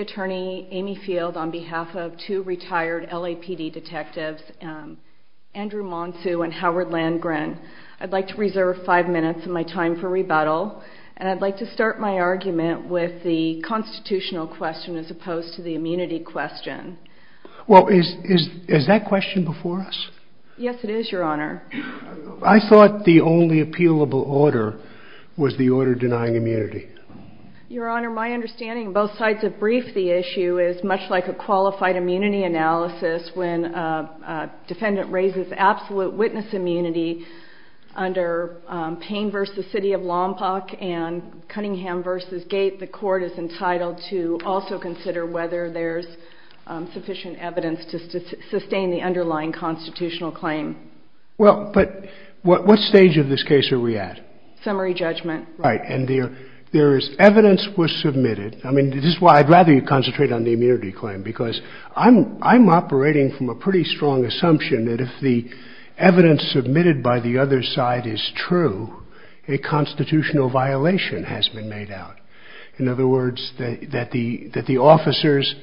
Attorney, Amy Field, on behalf of two retired LAPD detectives, Andrew Monsoo and Howard Landgren. I'd like to reserve five minutes of my time for rebuttal, and I'd like to start my argument with the constitutional question as opposed to the immunity question. Well, is that question before us? Yes, it is, Your Honor. I thought the only appealable order was the order denying immunity. Your Honor, my understanding of both sides of the brief, the issue is much like a qualified immunity analysis when a defendant raises absolute witness immunity under Payne v. City of Lompoc and Cunningham v. Gate, the court is entitled to also consider whether there's sufficient evidence to sustain the underlying constitutional claim. Well, but what stage of this case are we at? Summary judgment. Right. And there is evidence was submitted. I mean, this is why I'd rather you concentrate on the immunity claim, because I'm operating from a pretty strong assumption that if the evidence submitted by the other side is true, a constitutional violation has been made out. In other words, that the officers,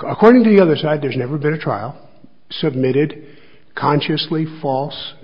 according to the other side, there's never been a trial submitted consciously false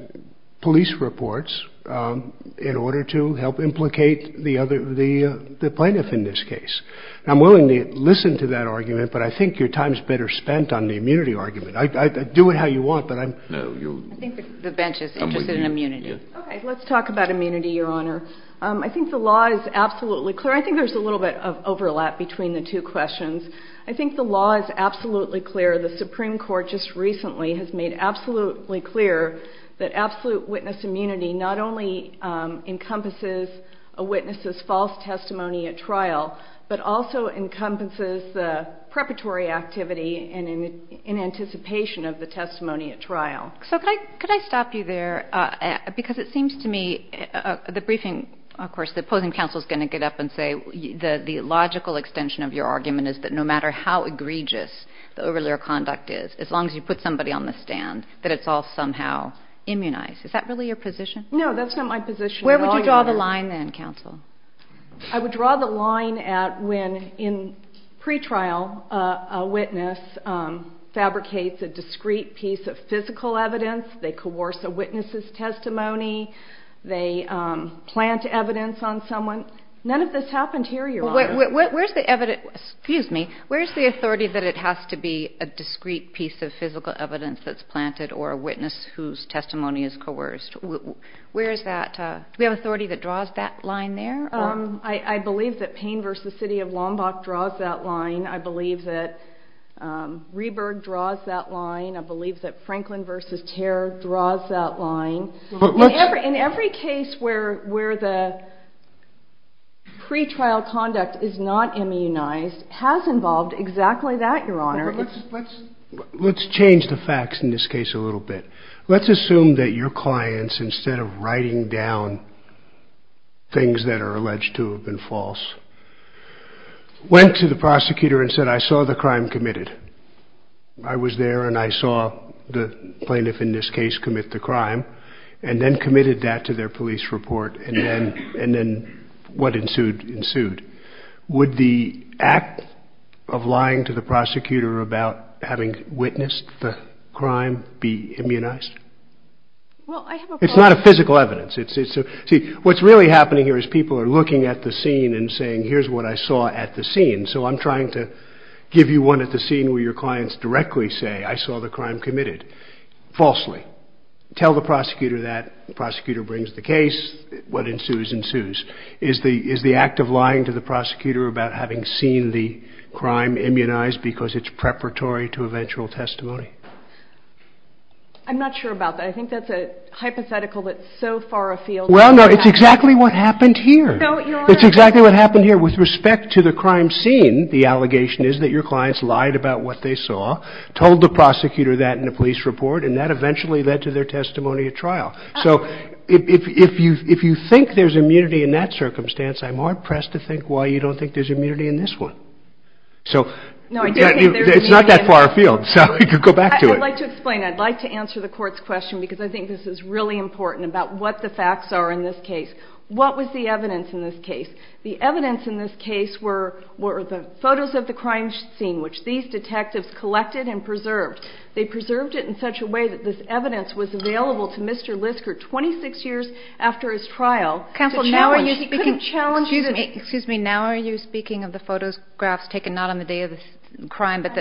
police reports in order to help implicate the plaintiff in this case. And I'm willing to listen to that argument, but I think your time's better spent on the immunity argument. I do it how you want, but I'm — No, you — I think the bench is interested in immunity. Okay. Let's talk about immunity, Your Honor. I think the law is absolutely clear. I think there's a little bit of overlap between the two questions. I think the law is absolutely clear. The Supreme Court just recently has made absolutely clear that absolute witness immunity not only encompasses a witness's false testimony at trial, but also encompasses the preparatory activity in anticipation of the testimony at trial. So could I stop you there? Because it seems to me the briefing — of course, the opposing counsel is going to get up and say, the logical extension of your argument is that no matter how egregious the regular conduct is, as long as you put somebody on the stand, that it's all somehow immunized. Is that really your position? No. That's not my position at all, Your Honor. Where would you draw the line, then, counsel? I would draw the line at when, in pretrial, a witness fabricates a discrete piece of physical evidence. They coerce a witness's testimony. They plant evidence on someone. None of this happened here, Your Honor. Where's the evidence — excuse me — where's the authority that it has to be a discrete piece of physical evidence that's planted, or a witness whose testimony is coerced? Where is that? Do we have authority that draws that line there? I believe that Payne v. City of Lombok draws that line. I believe that Rehberg draws that line. I believe that Franklin v. Tehr draws that line. In every case where the pretrial conduct is not immunized has involved exactly that, Your Honor. Let's change the facts in this case a little bit. Let's assume that your clients, instead of writing down things that are alleged to have been false, went to the prosecutor and said, I saw the crime committed. I was there and I saw the plaintiff in this case commit the crime, and then committed that to their police report, and then what ensued, ensued. Would the act of lying to the prosecutor about having witnessed the crime be immunized? It's not a physical evidence. See, what's really happening here is people are looking at the scene and saying, here's what I saw at the scene. So I'm trying to give you one at the scene where your clients directly say, I saw the crime committed, falsely. Tell the prosecutor that. Prosecutor brings the case. What ensues, ensues. Is the act of lying to the prosecutor about having seen the crime immunized because it's preparatory to eventual testimony? I'm not sure about that. I think that's a hypothetical that's so far afield. Well, no. It's exactly what happened here. No, Your Honor. It's exactly what happened here. So with respect to the crime scene, the allegation is that your clients lied about what they saw, told the prosecutor that in a police report, and that eventually led to their testimony at trial. So if you think there's immunity in that circumstance, I'm more impressed to think why you don't think there's immunity in this one. So it's not that far afield. So you can go back to it. I'd like to explain. I'd like to answer the court's question because I think this is really important about what the facts are in this case. What was the evidence in this case? The evidence in this case were the photos of the crime scene, which these detectives collected and preserved. They preserved it in such a way that this evidence was available to Mr. Lisker 26 years after his trial. Counsel, now are you speaking of the photographs taken not on the day of the crime, but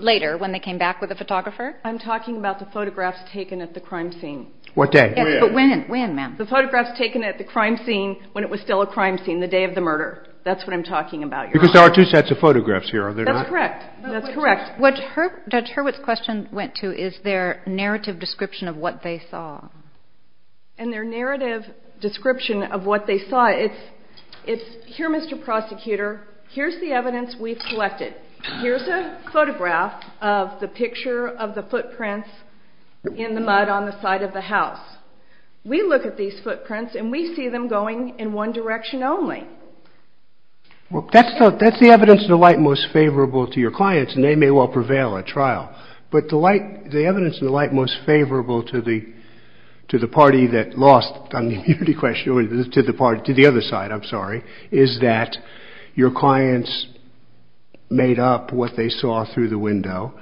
later when they came back with the photographer? I'm talking about the photographs taken at the crime scene. What day? When, ma'am? The photographs taken at the crime scene when it was still a crime scene, the day of the murder. That's what I'm talking about, Your Honor. Because there are two sets of photographs here, are there not? That's correct. That's correct. What Judge Hurwitz's question went to is their narrative description of what they saw. And their narrative description of what they saw, it's, here, Mr. Prosecutor, here's the evidence we've collected. Here's a photograph of the picture of the footprints in the mud on the side of the house. We look at these footprints and we see them going in one direction only. Well, that's the evidence in the light most favorable to your clients, and they may well prevail at trial. But the evidence in the light most favorable to the party that lost on the immunity question, to the other side, I'm sorry, is that your clients made up what they saw through the window.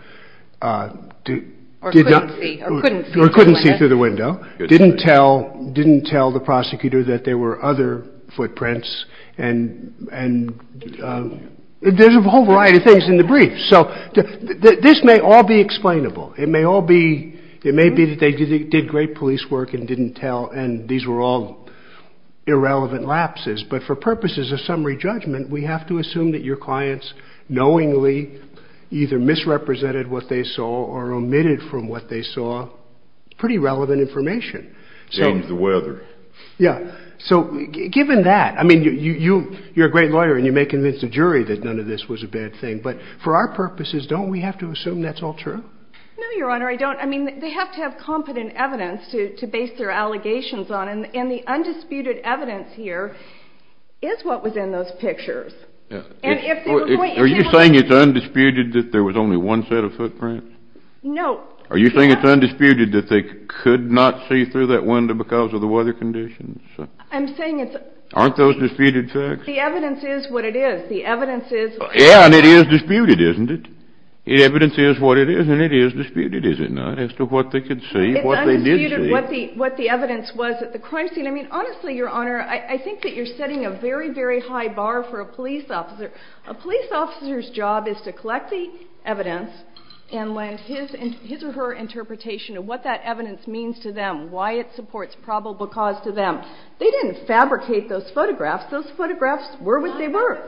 Or couldn't see. Or couldn't see through the window. Didn't tell the prosecutor that there were other footprints, and there's a whole variety of things in the brief. So this may all be explainable. It may all be, it may be that they did great police work and didn't tell, and these were all irrelevant lapses. But for purposes of summary judgment, we have to assume that your clients knowingly either misrepresented what they saw or omitted from what they saw pretty relevant information. In terms of the weather. Yeah. So given that, I mean, you're a great lawyer and you may convince the jury that none of this was a bad thing, but for our purposes, don't we have to assume that's all true? No, your honor, I don't. I mean, they have to have competent evidence to base their allegations on, and the undisputed evidence here is what was in those pictures. Are you saying it's undisputed that there was only one set of footprints? No. Are you saying it's undisputed that they could not see through that window because of the weather conditions? I'm saying it's... Aren't those disputed facts? The evidence is what it is. The evidence is... Yeah, and it is disputed, isn't it? The evidence is what it is, and it is disputed, is it not, as to what they could see, what they did see? It's undisputed what the evidence was at the crime scene. And if they were going... Are you saying it's undisputed that there was only one set of footprints? No. You know, I'm not a police officer. A police officer's job is to collect the evidence and lend his or her interpretation of what that evidence means to them, why it supports probable cause to them. They didn't fabricate those photographs. Those photographs were what they were.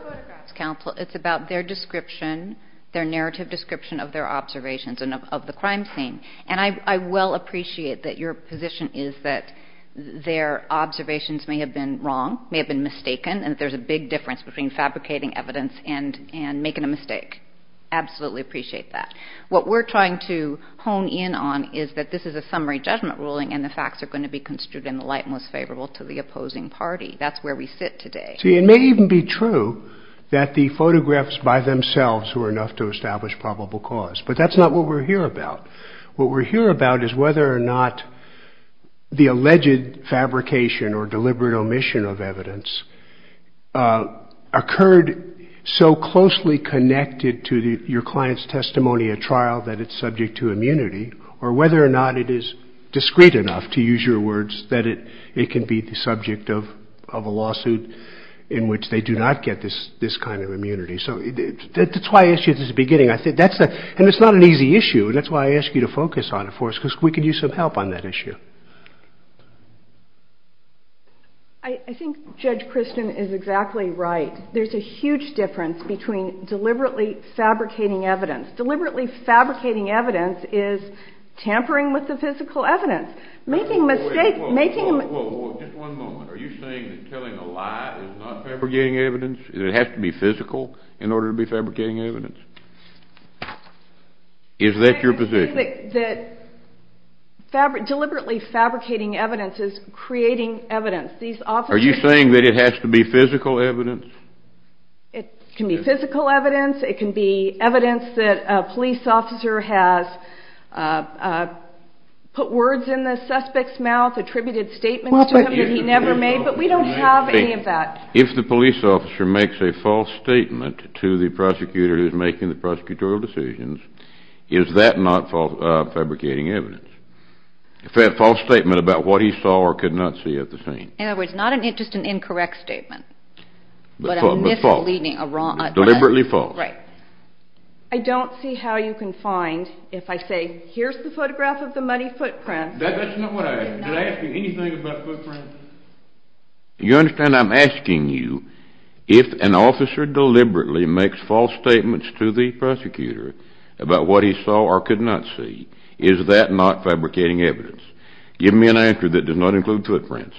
Counsel, it's about their description, their narrative description of their observations and of the crime scene, and I well appreciate that your position is that their observations may have been wrong, may have been mistaken, and that there's a big difference between fabricating evidence and making a mistake. Absolutely appreciate that. What we're trying to hone in on is that this is a summary judgment ruling and the facts are going to be construed in the light most favorable to the opposing party. That's where we sit today. See, it may even be true that the photographs by themselves were enough to establish probable cause, but that's not what we're here about. What we're here about is whether or not the alleged fabrication or deliberate omission of evidence occurred so closely connected to your client's testimony at trial that it's subject to immunity, or whether or not it is discreet enough, to use your words, that it can be the subject of a lawsuit in which they do not get this kind of immunity. So that's why I asked you at the beginning, and it's not an easy issue, and that's why I asked you to focus on it for us, because we could use some help on that issue. I think Judge Christian is exactly right. There's a huge difference between deliberately fabricating evidence. Deliberately fabricating evidence is tampering with the physical evidence, making a mistake, making a... Whoa, whoa, whoa. Just one moment. Are you saying that telling a lie is not fabricating evidence, that it has to be physical in order to be fabricating evidence? Is that your position? I didn't say that deliberately fabricating evidence is creating evidence. These officers... Are you saying that it has to be physical evidence? It can be physical evidence. It can be evidence that a police officer has put words in the suspect's mouth, attributed statements to him that he never made, but we don't have any of that. If the police officer makes a false statement to the prosecutor who's making the prosecutorial decisions, is that not fabricating evidence? If they have a false statement about what he saw or could not see at the scene. In other words, not just an incorrect statement, but a misleading, a wrong... But false. Deliberately false. Right. I don't see how you can find, if I say, here's the photograph of the muddy footprint... That's not what I... Did I ask you anything about footprints? You understand I'm asking you, if an officer deliberately makes false statements to the prosecutor about what he saw or could not see, is that not fabricating evidence? Give me an answer that does not include footprints.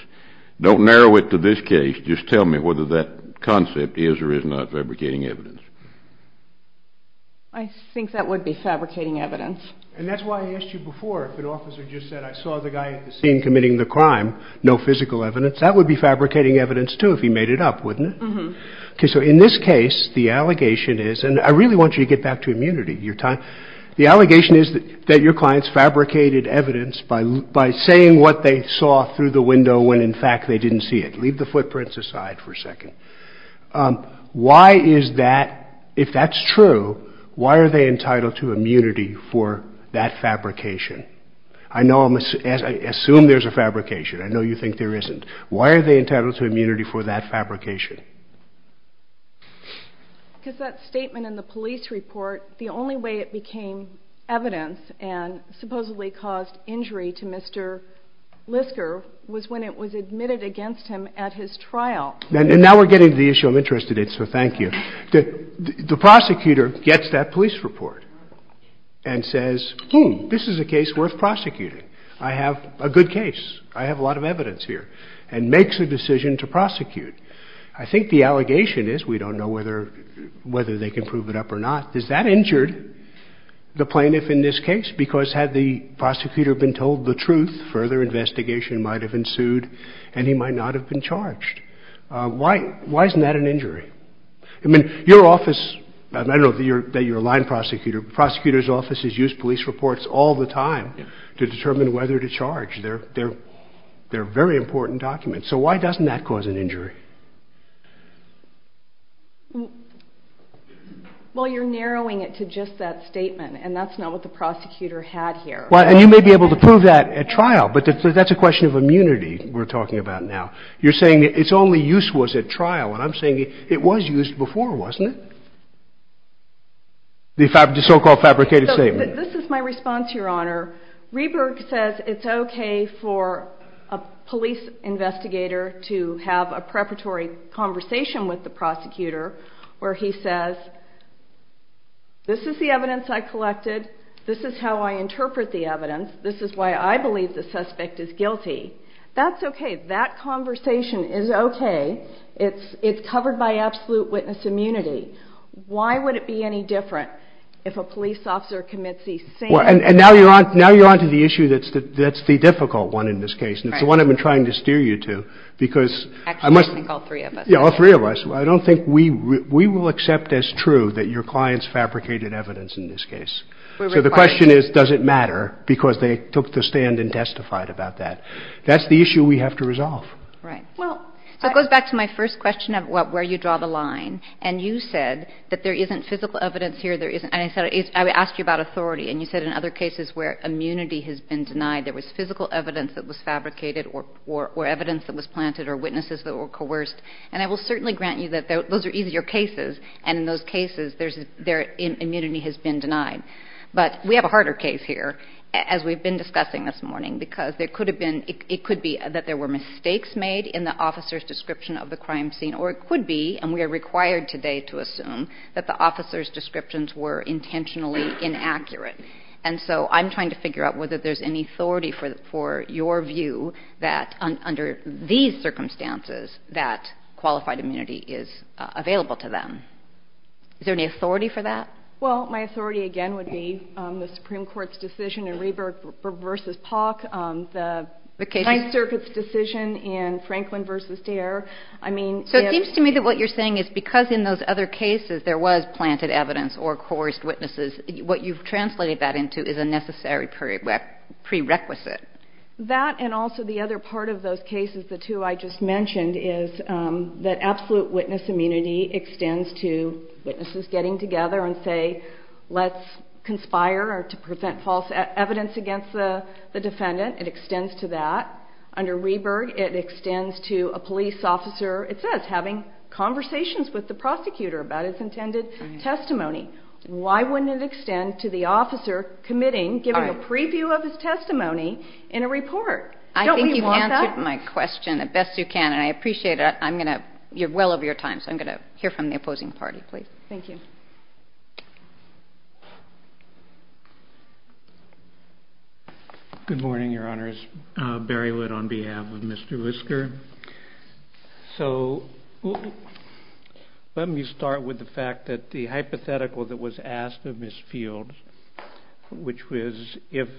Don't narrow it to this case, just tell me whether that concept is or is not fabricating evidence. I think that would be fabricating evidence. And that's why I asked you before if an officer just said, I saw the guy at the scene committing the crime, no physical evidence, that would be fabricating evidence too if he made it up, wouldn't it? Okay, so in this case, the allegation is, and I really want you to get back to immunity, your time. The allegation is that your clients fabricated evidence by saying what they saw through the window when in fact they didn't see it. Leave the footprints aside for a second. Why is that, if that's true, why are they entitled to immunity for that fabrication? I assume there's a fabrication. I know you think there isn't. Why are they entitled to immunity for that fabrication? Because that statement in the police report, the only way it became evidence and supposedly caused injury to Mr. Lisker was when it was admitted against him at his trial. And now we're getting to the issue I'm interested in, so thank you. The prosecutor gets that police report and says, hmm, this is a case worth prosecuting. I have a good case. I have a lot of evidence here, and makes a decision to prosecute. I think the allegation is, we don't know whether they can prove it up or not, is that injured the plaintiff in this case? Because had the prosecutor been told the truth, further investigation might have ensued and Why isn't that an injury? Your office, I know that you're a line prosecutor, prosecutors' offices use police reports all the time to determine whether to charge. They're very important documents. So why doesn't that cause an injury? Well, you're narrowing it to just that statement, and that's not what the prosecutor had here. And you may be able to prove that at trial, but that's a question of immunity we're talking about now. You're saying its only use was at trial, and I'm saying it was used before, wasn't it? The so-called fabricated statement. This is my response, Your Honor. Rieberg says it's okay for a police investigator to have a preparatory conversation with the prosecutor where he says, this is the evidence I collected. This is how I interpret the evidence. This is why I believe the suspect is guilty. That's okay. That conversation is okay. It's covered by absolute witness immunity. Why would it be any different if a police officer commits these same... And now you're on to the issue that's the difficult one in this case, and it's the one I've been trying to steer you to, because... Actually, I think all three of us. Yeah, all three of us. I don't think we will accept as true that your clients fabricated evidence in this case. So the question is, does it matter? Because they took the stand and testified about that. That's the issue we have to resolve. Right. So it goes back to my first question of where you draw the line, and you said that there isn't physical evidence here. I asked you about authority, and you said in other cases where immunity has been denied, there was physical evidence that was fabricated or evidence that was planted or witnesses that were coerced. And I will certainly grant you that those are easier cases, and in those cases their immunity has been denied. But we have a harder case here, as we've been discussing this morning, because there could have been... It could be that there were mistakes made in the officer's description of the crime scene, or it could be, and we are required today to assume, that the officer's descriptions were intentionally inaccurate. And so I'm trying to figure out whether there's any authority for your view that under these circumstances that qualified immunity is available to them. Is there any authority for that? Well, my authority, again, would be the Supreme Court's decision in Reber v. Pauk, the Ninth Circuit's decision in Franklin v. Dare. I mean... So it seems to me that what you're saying is because in those other cases there was planted evidence or coerced witnesses, what you've translated that into is a necessary prerequisite. That, and also the other part of those cases, the two I just mentioned, is that absolute witness immunity extends to witnesses getting together and say, let's conspire to prevent false evidence against the defendant. It extends to that. Under Reberg, it extends to a police officer, it says, having conversations with the prosecutor about his intended testimony. Why wouldn't it extend to the officer committing, giving a preview of his testimony in a report? Don't we want that? I think you've answered my question the best you can, and I appreciate it. I'm going to... You're well over your time, so I'm going to hear from the opposing party, please. Thank you. Good morning, Your Honors. Barry Wood on behalf of Mr. Whisker. So let me start with the fact that the hypothetical that was asked of Ms. Fields, which was if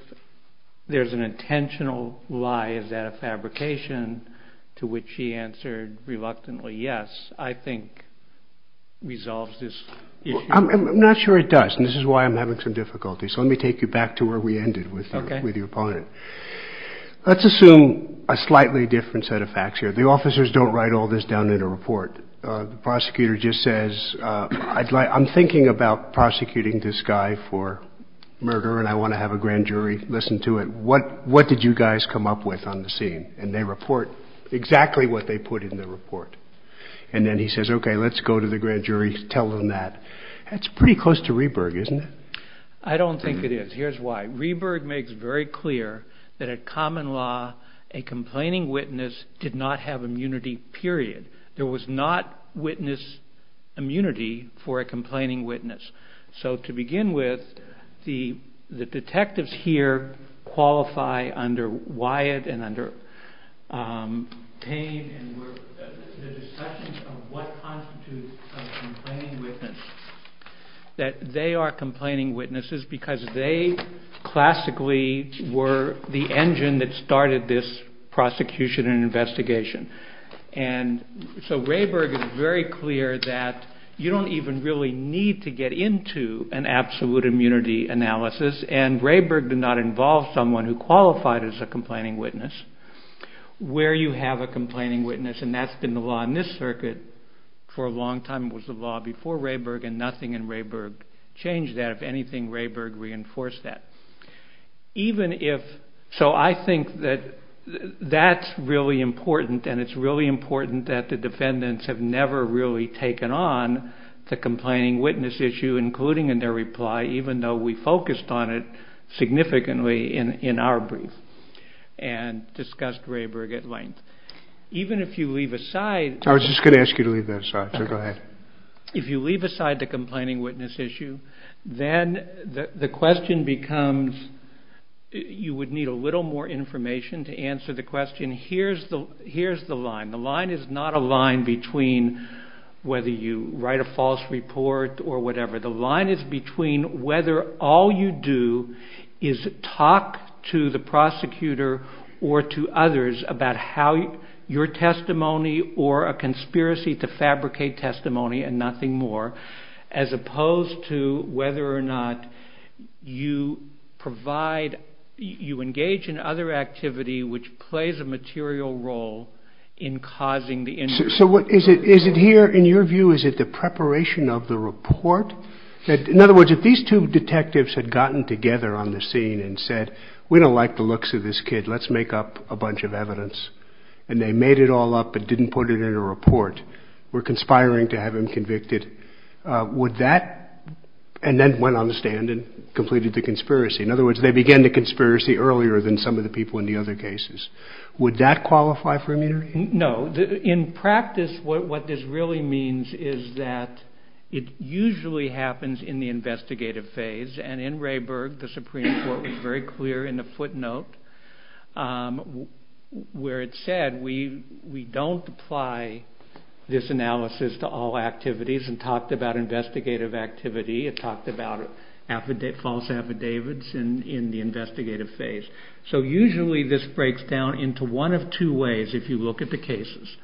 there's an intentional lie, is that a fabrication, to which she answered reluctantly yes, I think resolves this issue. I'm not sure it does, and this is why I'm having some difficulty. So let me take you back to where we ended with your opponent. Okay. Let's assume a slightly different set of facts here. The officers don't write all this down in a report. The prosecutor just says, I'm thinking about prosecuting this guy for murder, and I want to have a grand jury listen to it. What did you guys come up with on the scene? And they report exactly what they put in the report. And then he says, okay, let's go to the grand jury, tell them that. That's pretty close to Rieberg, isn't it? I don't think it is. Here's why. Rieberg makes very clear that at common law, a complaining witness did not have immunity, period. There was not witness immunity for a complaining witness. So to begin with, the detectives here qualify under Wyatt and under Payne, and the discussion of what constitutes a complaining witness, that they are complaining witnesses because they classically were the engine that started this prosecution and investigation. So Rieberg is very clear that you don't even really need to get into an absolute immunity analysis, and Rieberg did not involve someone who qualified as a complaining witness. Where you have a complaining witness, and that's been the law in this circuit for a long time, was the law before Rieberg, and nothing in Rieberg changed that. If anything, Rieberg reinforced that. So I think that that's really important, and it's really important that the defendants have never really taken on the complaining witness issue, including in their reply, even though we focused on it significantly in our brief and discussed Rieberg at length. Even if you leave aside... I was just going to ask you to leave that aside, so go ahead. If you leave aside the complaining witness issue, then the question becomes, you would need a little more information to answer the question. Here's the line. The line is not a line between whether you write a false report or whatever. The line is between whether all you do is talk to the prosecutor or to others about your testimony or a conspiracy to fabricate testimony and nothing more, as opposed to whether or not you engage in other activity which plays a material role in causing the... So is it here, in your view, is it the preparation of the report? In other words, if these two detectives had gotten together on the scene and said, we don't like the looks of this kid, let's make up a bunch of evidence, and they made it all up but didn't put it in a report, were conspiring to have him convicted, would that... and then went on the stand and completed the conspiracy. In other words, they began the conspiracy earlier than some of the people in the other cases. Would that qualify for immunity? No. In practice, what this really means is that it usually happens in the investigative phase, and in Rayburg, the Supreme Court was very clear in the footnote where it said, we don't apply this analysis to all activities and talked about investigative activity. It talked about false affidavits in the investigative phase. So usually this breaks down into one of two ways if you look at the cases.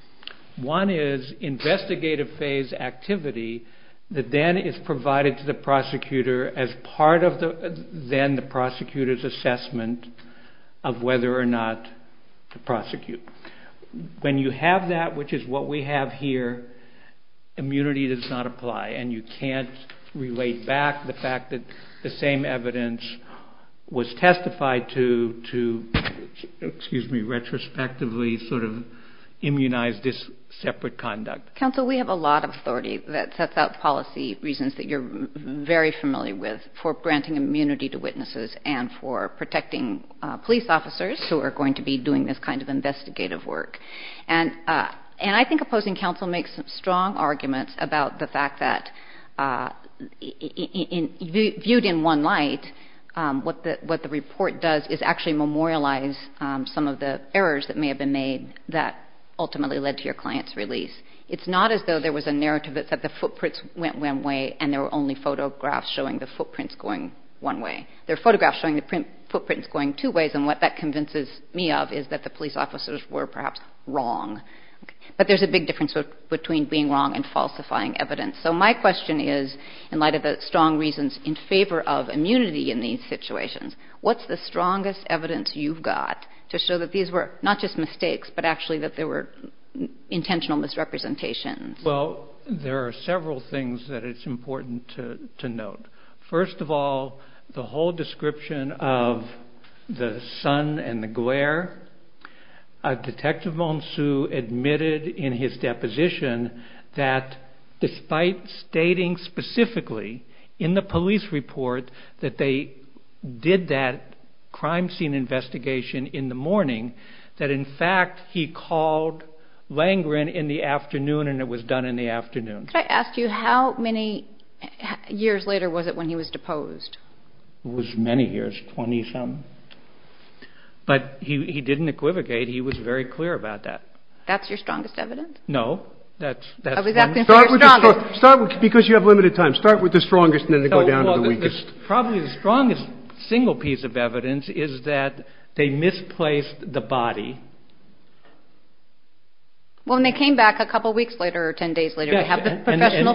One is investigative phase activity that then is provided to the prosecutor as part of then the prosecutor's assessment of whether or not to prosecute. When you have that, which is what we have here, immunity does not apply, and you can't relate back the fact that the same evidence was testified to, excuse me, retrospectively sort of immunize this separate conduct. Counsel, we have a lot of authority that sets out policy reasons that you're very familiar with for granting immunity to witnesses and for protecting police officers who are going to be doing this kind of investigative work. And I think opposing counsel makes strong arguments about the fact that viewed in one light, what the report does is actually memorialize some of the errors that may have been made that ultimately led to your client's release. It's not as though there was a narrative that the footprints went one way and there were only photographs showing the footprints going one way. There are photographs showing the footprints going two ways, and what that convinces me of is that the police officers were perhaps wrong. But there's a big difference between being wrong and falsifying evidence. So my question is, in light of the strong reasons in favor of immunity in these situations, what's the strongest evidence you've got to show that these were not just mistakes, but actually that there were intentional misrepresentations? Well, there are several things that it's important to note. First of all, the whole description of the sun and the glare. Detective Monceau admitted in his deposition that despite stating specifically in the police report that they did that crime scene investigation in the morning, that in fact he called Langren in the afternoon and it was done in the afternoon. Could I ask you how many years later was it when he was deposed? It was many years, 20-some. But he didn't equivocate. He was very clear about that. That's your strongest evidence? No. I was asking for your strongest. Because you have limited time, start with the strongest and then go down to the weakest. Probably the strongest single piece of evidence is that they misplaced the body. Well, and they came back a couple weeks later or 10 days later to have the professional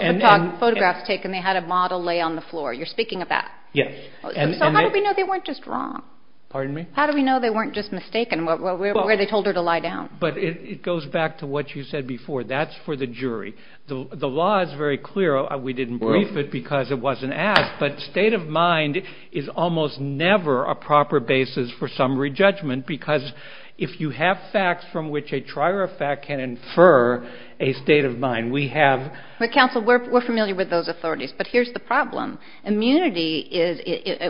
photographs taken. They had a model lay on the floor. You're speaking of that. Yes. So how do we know they weren't just wrong? Pardon me? How do we know they weren't just mistaken where they told her to lie down? But it goes back to what you said before. That's for the jury. The law is very clear. We didn't brief it because it wasn't asked. But state of mind is almost never a proper basis for summary judgment because if you have facts from which a trier of fact can infer a state of mind, we have... But counsel, we're familiar with those authorities. But here's the problem. Immunity is...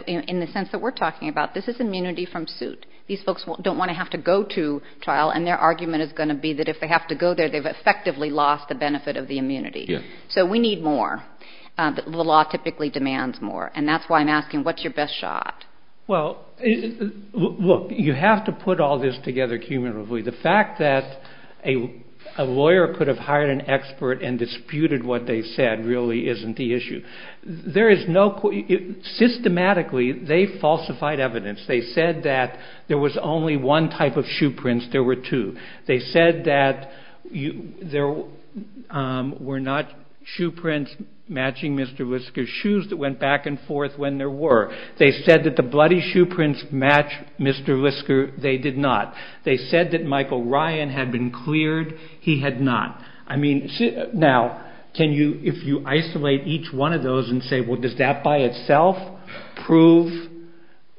In the sense that we're talking about, this is immunity from suit. These folks don't want to have to go to trial, and their argument is going to be that if they have to go there, they've effectively lost the benefit of the immunity. So we need more. The law typically demands more. And that's why I'm asking, what's your best shot? Well, look, you have to put all this together cumulatively. The fact that a lawyer could have hired an expert and disputed what they said really isn't the issue. There is no... Systematically, they falsified evidence. They said that there was only one type of shoe prints. There were two. They said that there were not shoe prints matching Mr. Lisker's shoes that went back and forth when there were. They said that the bloody shoe prints match Mr. Lisker. They did not. They said that Michael Ryan had been cleared. He had not. I mean, now, if you isolate each one of those and say, well, does that by itself prove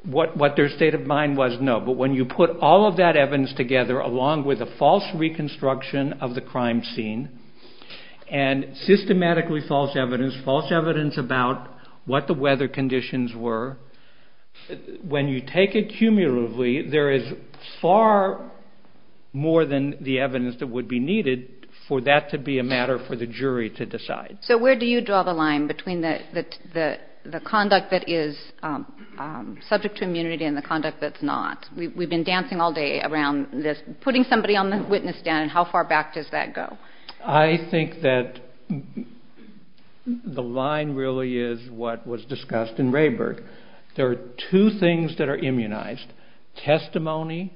what their state of mind was? No, but when you put all of that evidence together along with a false reconstruction of the crime scene and systematically false evidence, false evidence about what the weather conditions were, when you take it cumulatively, there is far more than the evidence that would be needed for that to be a matter for the jury to decide. So where do you draw the line between the conduct that is subject to immunity and the conduct that's not? We've been dancing all day around this putting somebody on the witness stand and how far back does that go? I think that the line really is what was discussed in Rayburg. There are two things that are immunized, testimony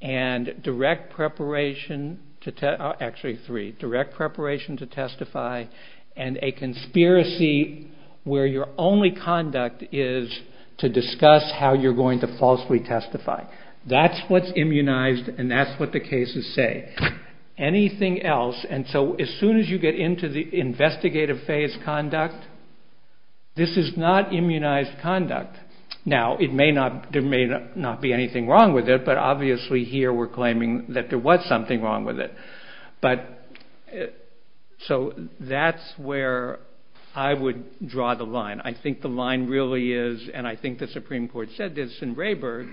and direct preparation to testify, actually three, direct preparation to testify and a conspiracy where your only conduct is to discuss how you're going to falsely testify. That's what's immunized and that's what the cases say. Anything else, and so as soon as you get into the investigative phase conduct, this is not immunized conduct. Now there may not be anything wrong with it, but obviously here we're claiming that there was something wrong with it. So that's where I would draw the line. I think the line really is, and I think the Supreme Court said this in Rayburg,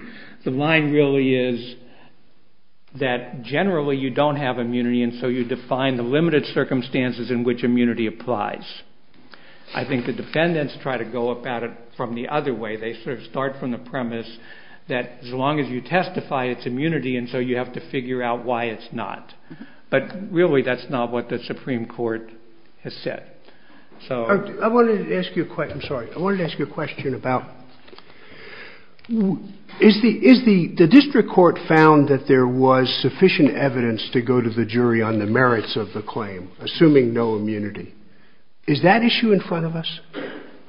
the line really is that generally you don't have immunity and so you define the limited circumstances in which immunity applies. I think the defendants try to go about it from the other way. They sort of start from the premise that as long as you testify it's immunity and so you have to figure out why it's not. But really that's not what the Supreme Court has said. I wanted to ask you a question about, the district court found that there was sufficient evidence to go to the jury on the merits of the claim, assuming no immunity. Is that issue in front of us?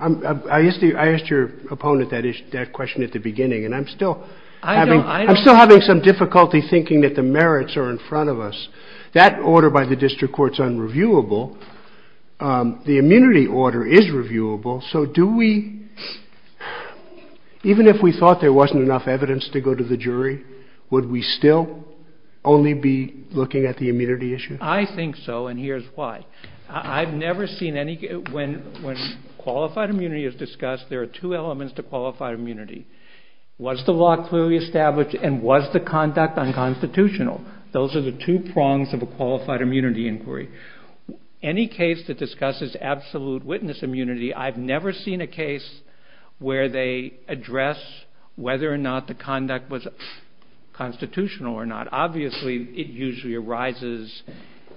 I asked your opponent that question at the beginning and I'm still having some difficulty thinking that the merits are in front of us. That order by the district court is unreviewable. The immunity order is reviewable. So do we, even if we thought there wasn't enough evidence to go to the jury, would we still only be looking at the immunity issue? I think so and here's why. I've never seen any, when qualified immunity is discussed, there are two elements to qualified immunity. Was the law clearly established and was the conduct unconstitutional? Those are the two prongs of a qualified immunity inquiry. Any case that discusses absolute witness immunity, I've never seen a case where they address whether or not the conduct was constitutional or not. Obviously it usually arises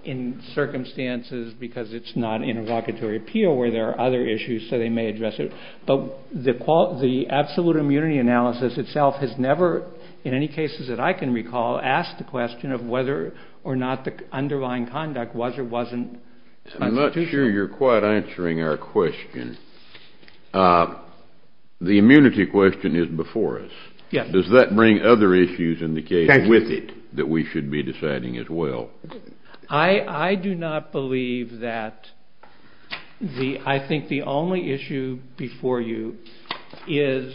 in circumstances because it's not an interlocutory appeal where there are other issues so they may address it. But the absolute immunity analysis itself has never, in any cases that I can recall, asked the question of whether or not the underlying conduct was or wasn't constitutional. I'm not sure you're quite answering our question. The immunity question is before us. Does that bring other issues in the case with it that we should be deciding as well? I do not believe that. I think the only issue before you is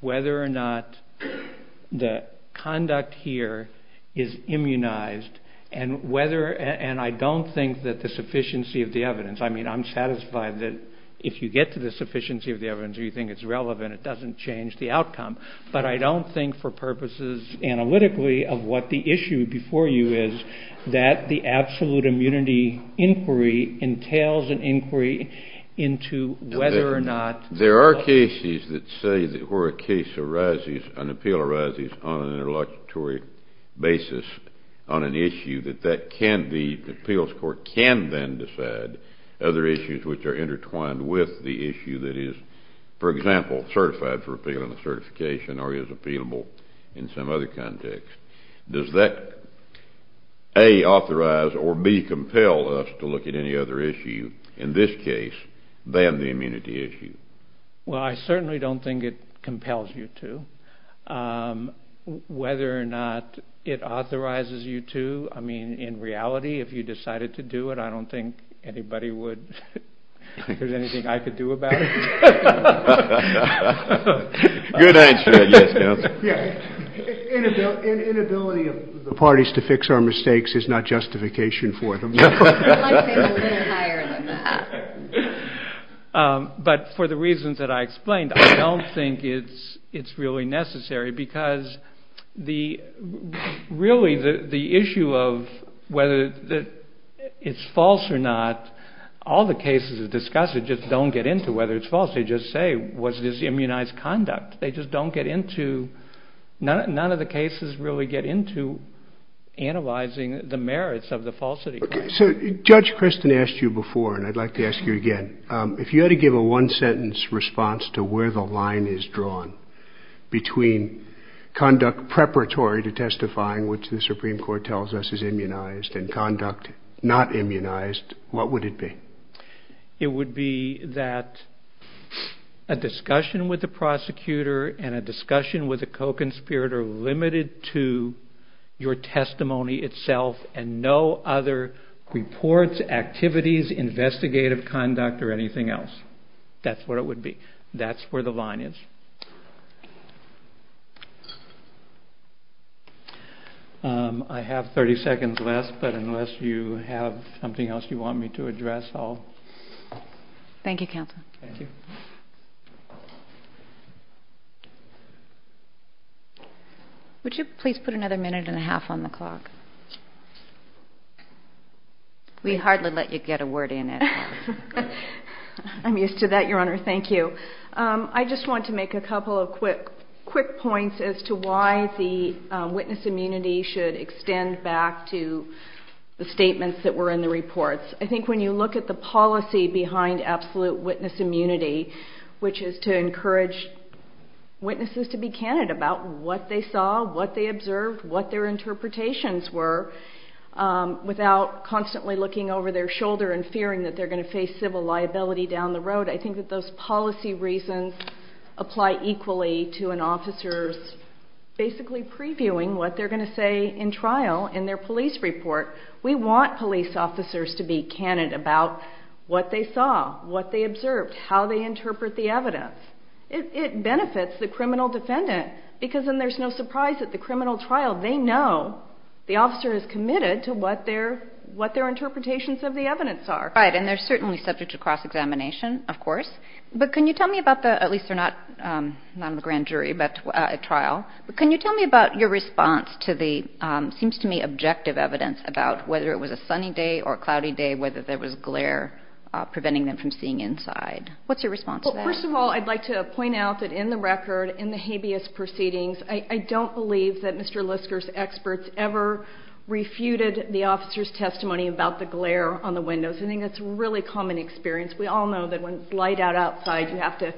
whether or not the conduct here is immunized and I don't think that the sufficiency of the evidence, I mean I'm satisfied that if you get to the sufficiency of the evidence or you think it's relevant, it doesn't change the outcome, but I don't think for purposes analytically of what the issue before you is that the absolute immunity inquiry entails an inquiry into whether or not. There are cases that say that where a case arises, an appeal arises on an interlocutory basis on an issue that the appeals court can then decide other issues which are intertwined with the issue that is, for example, certified for appeal and certification or is appealable in some other context. Does that, A, authorize or, B, compel us to look at any other issue, in this case, than the immunity issue? Well, I certainly don't think it compels you to. Whether or not it authorizes you to, I mean, in reality, if you decided to do it, I don't think anybody would. Is there anything I could do about it? Good answer, yes, Counselor. Inability of the parties to fix our mistakes is not justification for them. I'd say a little higher than that. But for the reasons that I explained, I don't think it's really necessary because really the issue of whether it's false or not, all the cases that discuss it just don't get into whether it's false. They just say, was this immunized conduct? They just don't get into, none of the cases really get into analyzing the merits of the falsity. Okay, so Judge Kristen asked you before, and I'd like to ask you again, if you had to give a one-sentence response to where the line is drawn between conduct preparatory to testifying, which the Supreme Court tells us is immunized, and conduct not immunized, what would it be? It would be that a discussion with the prosecutor and a discussion with a co-conspirator limited to your testimony itself and no other reports, activities, investigative conduct, or anything else. That's what it would be. That's where the line is. I have 30 seconds left, but unless you have something else you want me to address, I'll... Thank you, Counselor. Thank you. Would you please put another minute and a half on the clock? We hardly let you get a word in at all. I'm used to that, Your Honor. Thank you. I just want to make a couple of quick points as to why the witness immunity should extend back to the statements that were in the reports. I think when you look at the policy behind absolute witness immunity, which is to encourage witnesses to be candid about what they saw, what they observed, what their interpretations were, without constantly looking over their shoulder and fearing that they're going to face civil liability down the road, I think that those policy reasons apply equally to an officer's basically previewing what they're going to say in trial in their police report. We want police officers to be candid about what they saw, what they observed, how they interpret the evidence. It benefits the criminal defendant because then there's no surprise that the criminal trial, they know the officer is committed to what their interpretations of the evidence are. Right, and they're certainly subject to cross-examination, of course, but can you tell me about the, at least they're not on the grand jury, but at trial, but can you tell me about your response to the, seems to me, objective evidence about whether it was a sunny day or a cloudy day, whether there was glare preventing them from seeing inside. What's your response to that? Well, first of all, I'd like to point out that in the record, in the habeas proceedings, I don't believe that Mr. Lisker's experts ever refuted the officer's testimony about the glare on the windows. I think that's a really common experience. We all know that when it's light out outside, you have to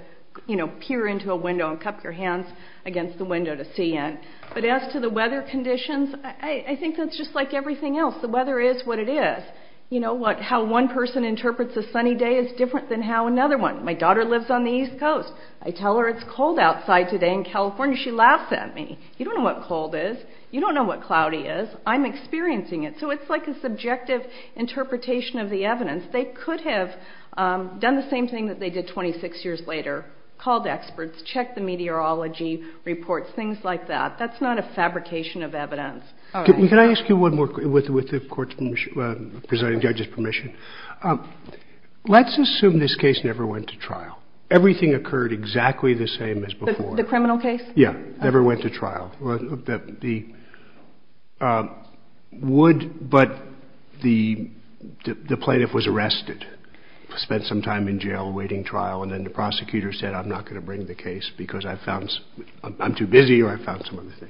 peer into a window and cup your hands against the window to see in. But as to the weather conditions, I think that's just like everything else. The weather is what it is. You know, how one person interprets a sunny day is different than how another one. My daughter lives on the East Coast. I tell her it's cold outside today in California. She laughs at me. You don't know what cold is. You don't know what cloudy is. I'm experiencing it. So it's like a subjective interpretation of the evidence. They could have done the same thing that they did 26 years later, called experts, checked the meteorology reports, things like that. That's not a fabrication of evidence. Can I ask you one more, with the court's presiding judge's permission? Let's assume this case never went to trial. Everything occurred exactly the same as before. The criminal case? Yeah, never went to trial. But the plaintiff was arrested, spent some time in jail waiting trial, and then the prosecutor said I'm not going to bring the case because I'm too busy or I found some other thing.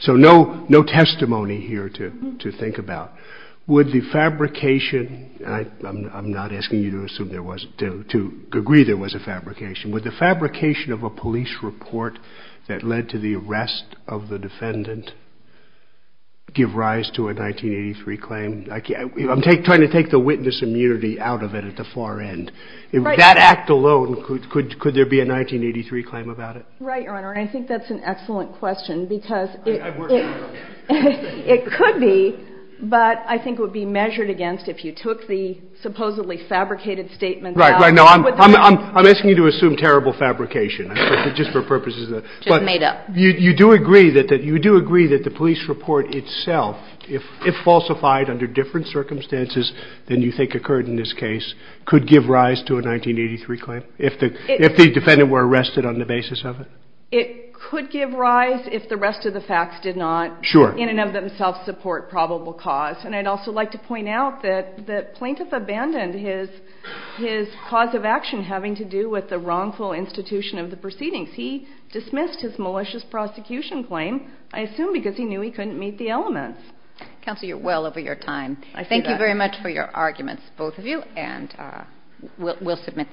So no testimony here to think about. Would the fabrication, and I'm not asking you to agree there was a fabrication, would the fabrication of a police report that led to the arrest of the defendant give rise to a 1983 claim? I'm trying to take the witness immunity out of it at the far end. That act alone, could there be a 1983 claim about it? Right, Your Honor. I think that's an excellent question because it could be, but I think it would be measured against if you took the supposedly fabricated statement out. Right. I'm asking you to assume terrible fabrication, just for purposes of that. Just made up. But you do agree that the police report itself, if falsified under different circumstances than you think occurred in this case, could give rise to a 1983 claim? If the defendant were arrested on the basis of it? It could give rise if the rest of the facts did not in and of themselves support probable cause. And I'd also like to point out that the plaintiff abandoned his cause of action having to do with the wrongful institution of the proceedings. He dismissed his malicious prosecution claim, I assume because he knew he couldn't meet the elements. Counsel, you're well over your time. Thank you very much for your arguments, both of you. And we'll submit.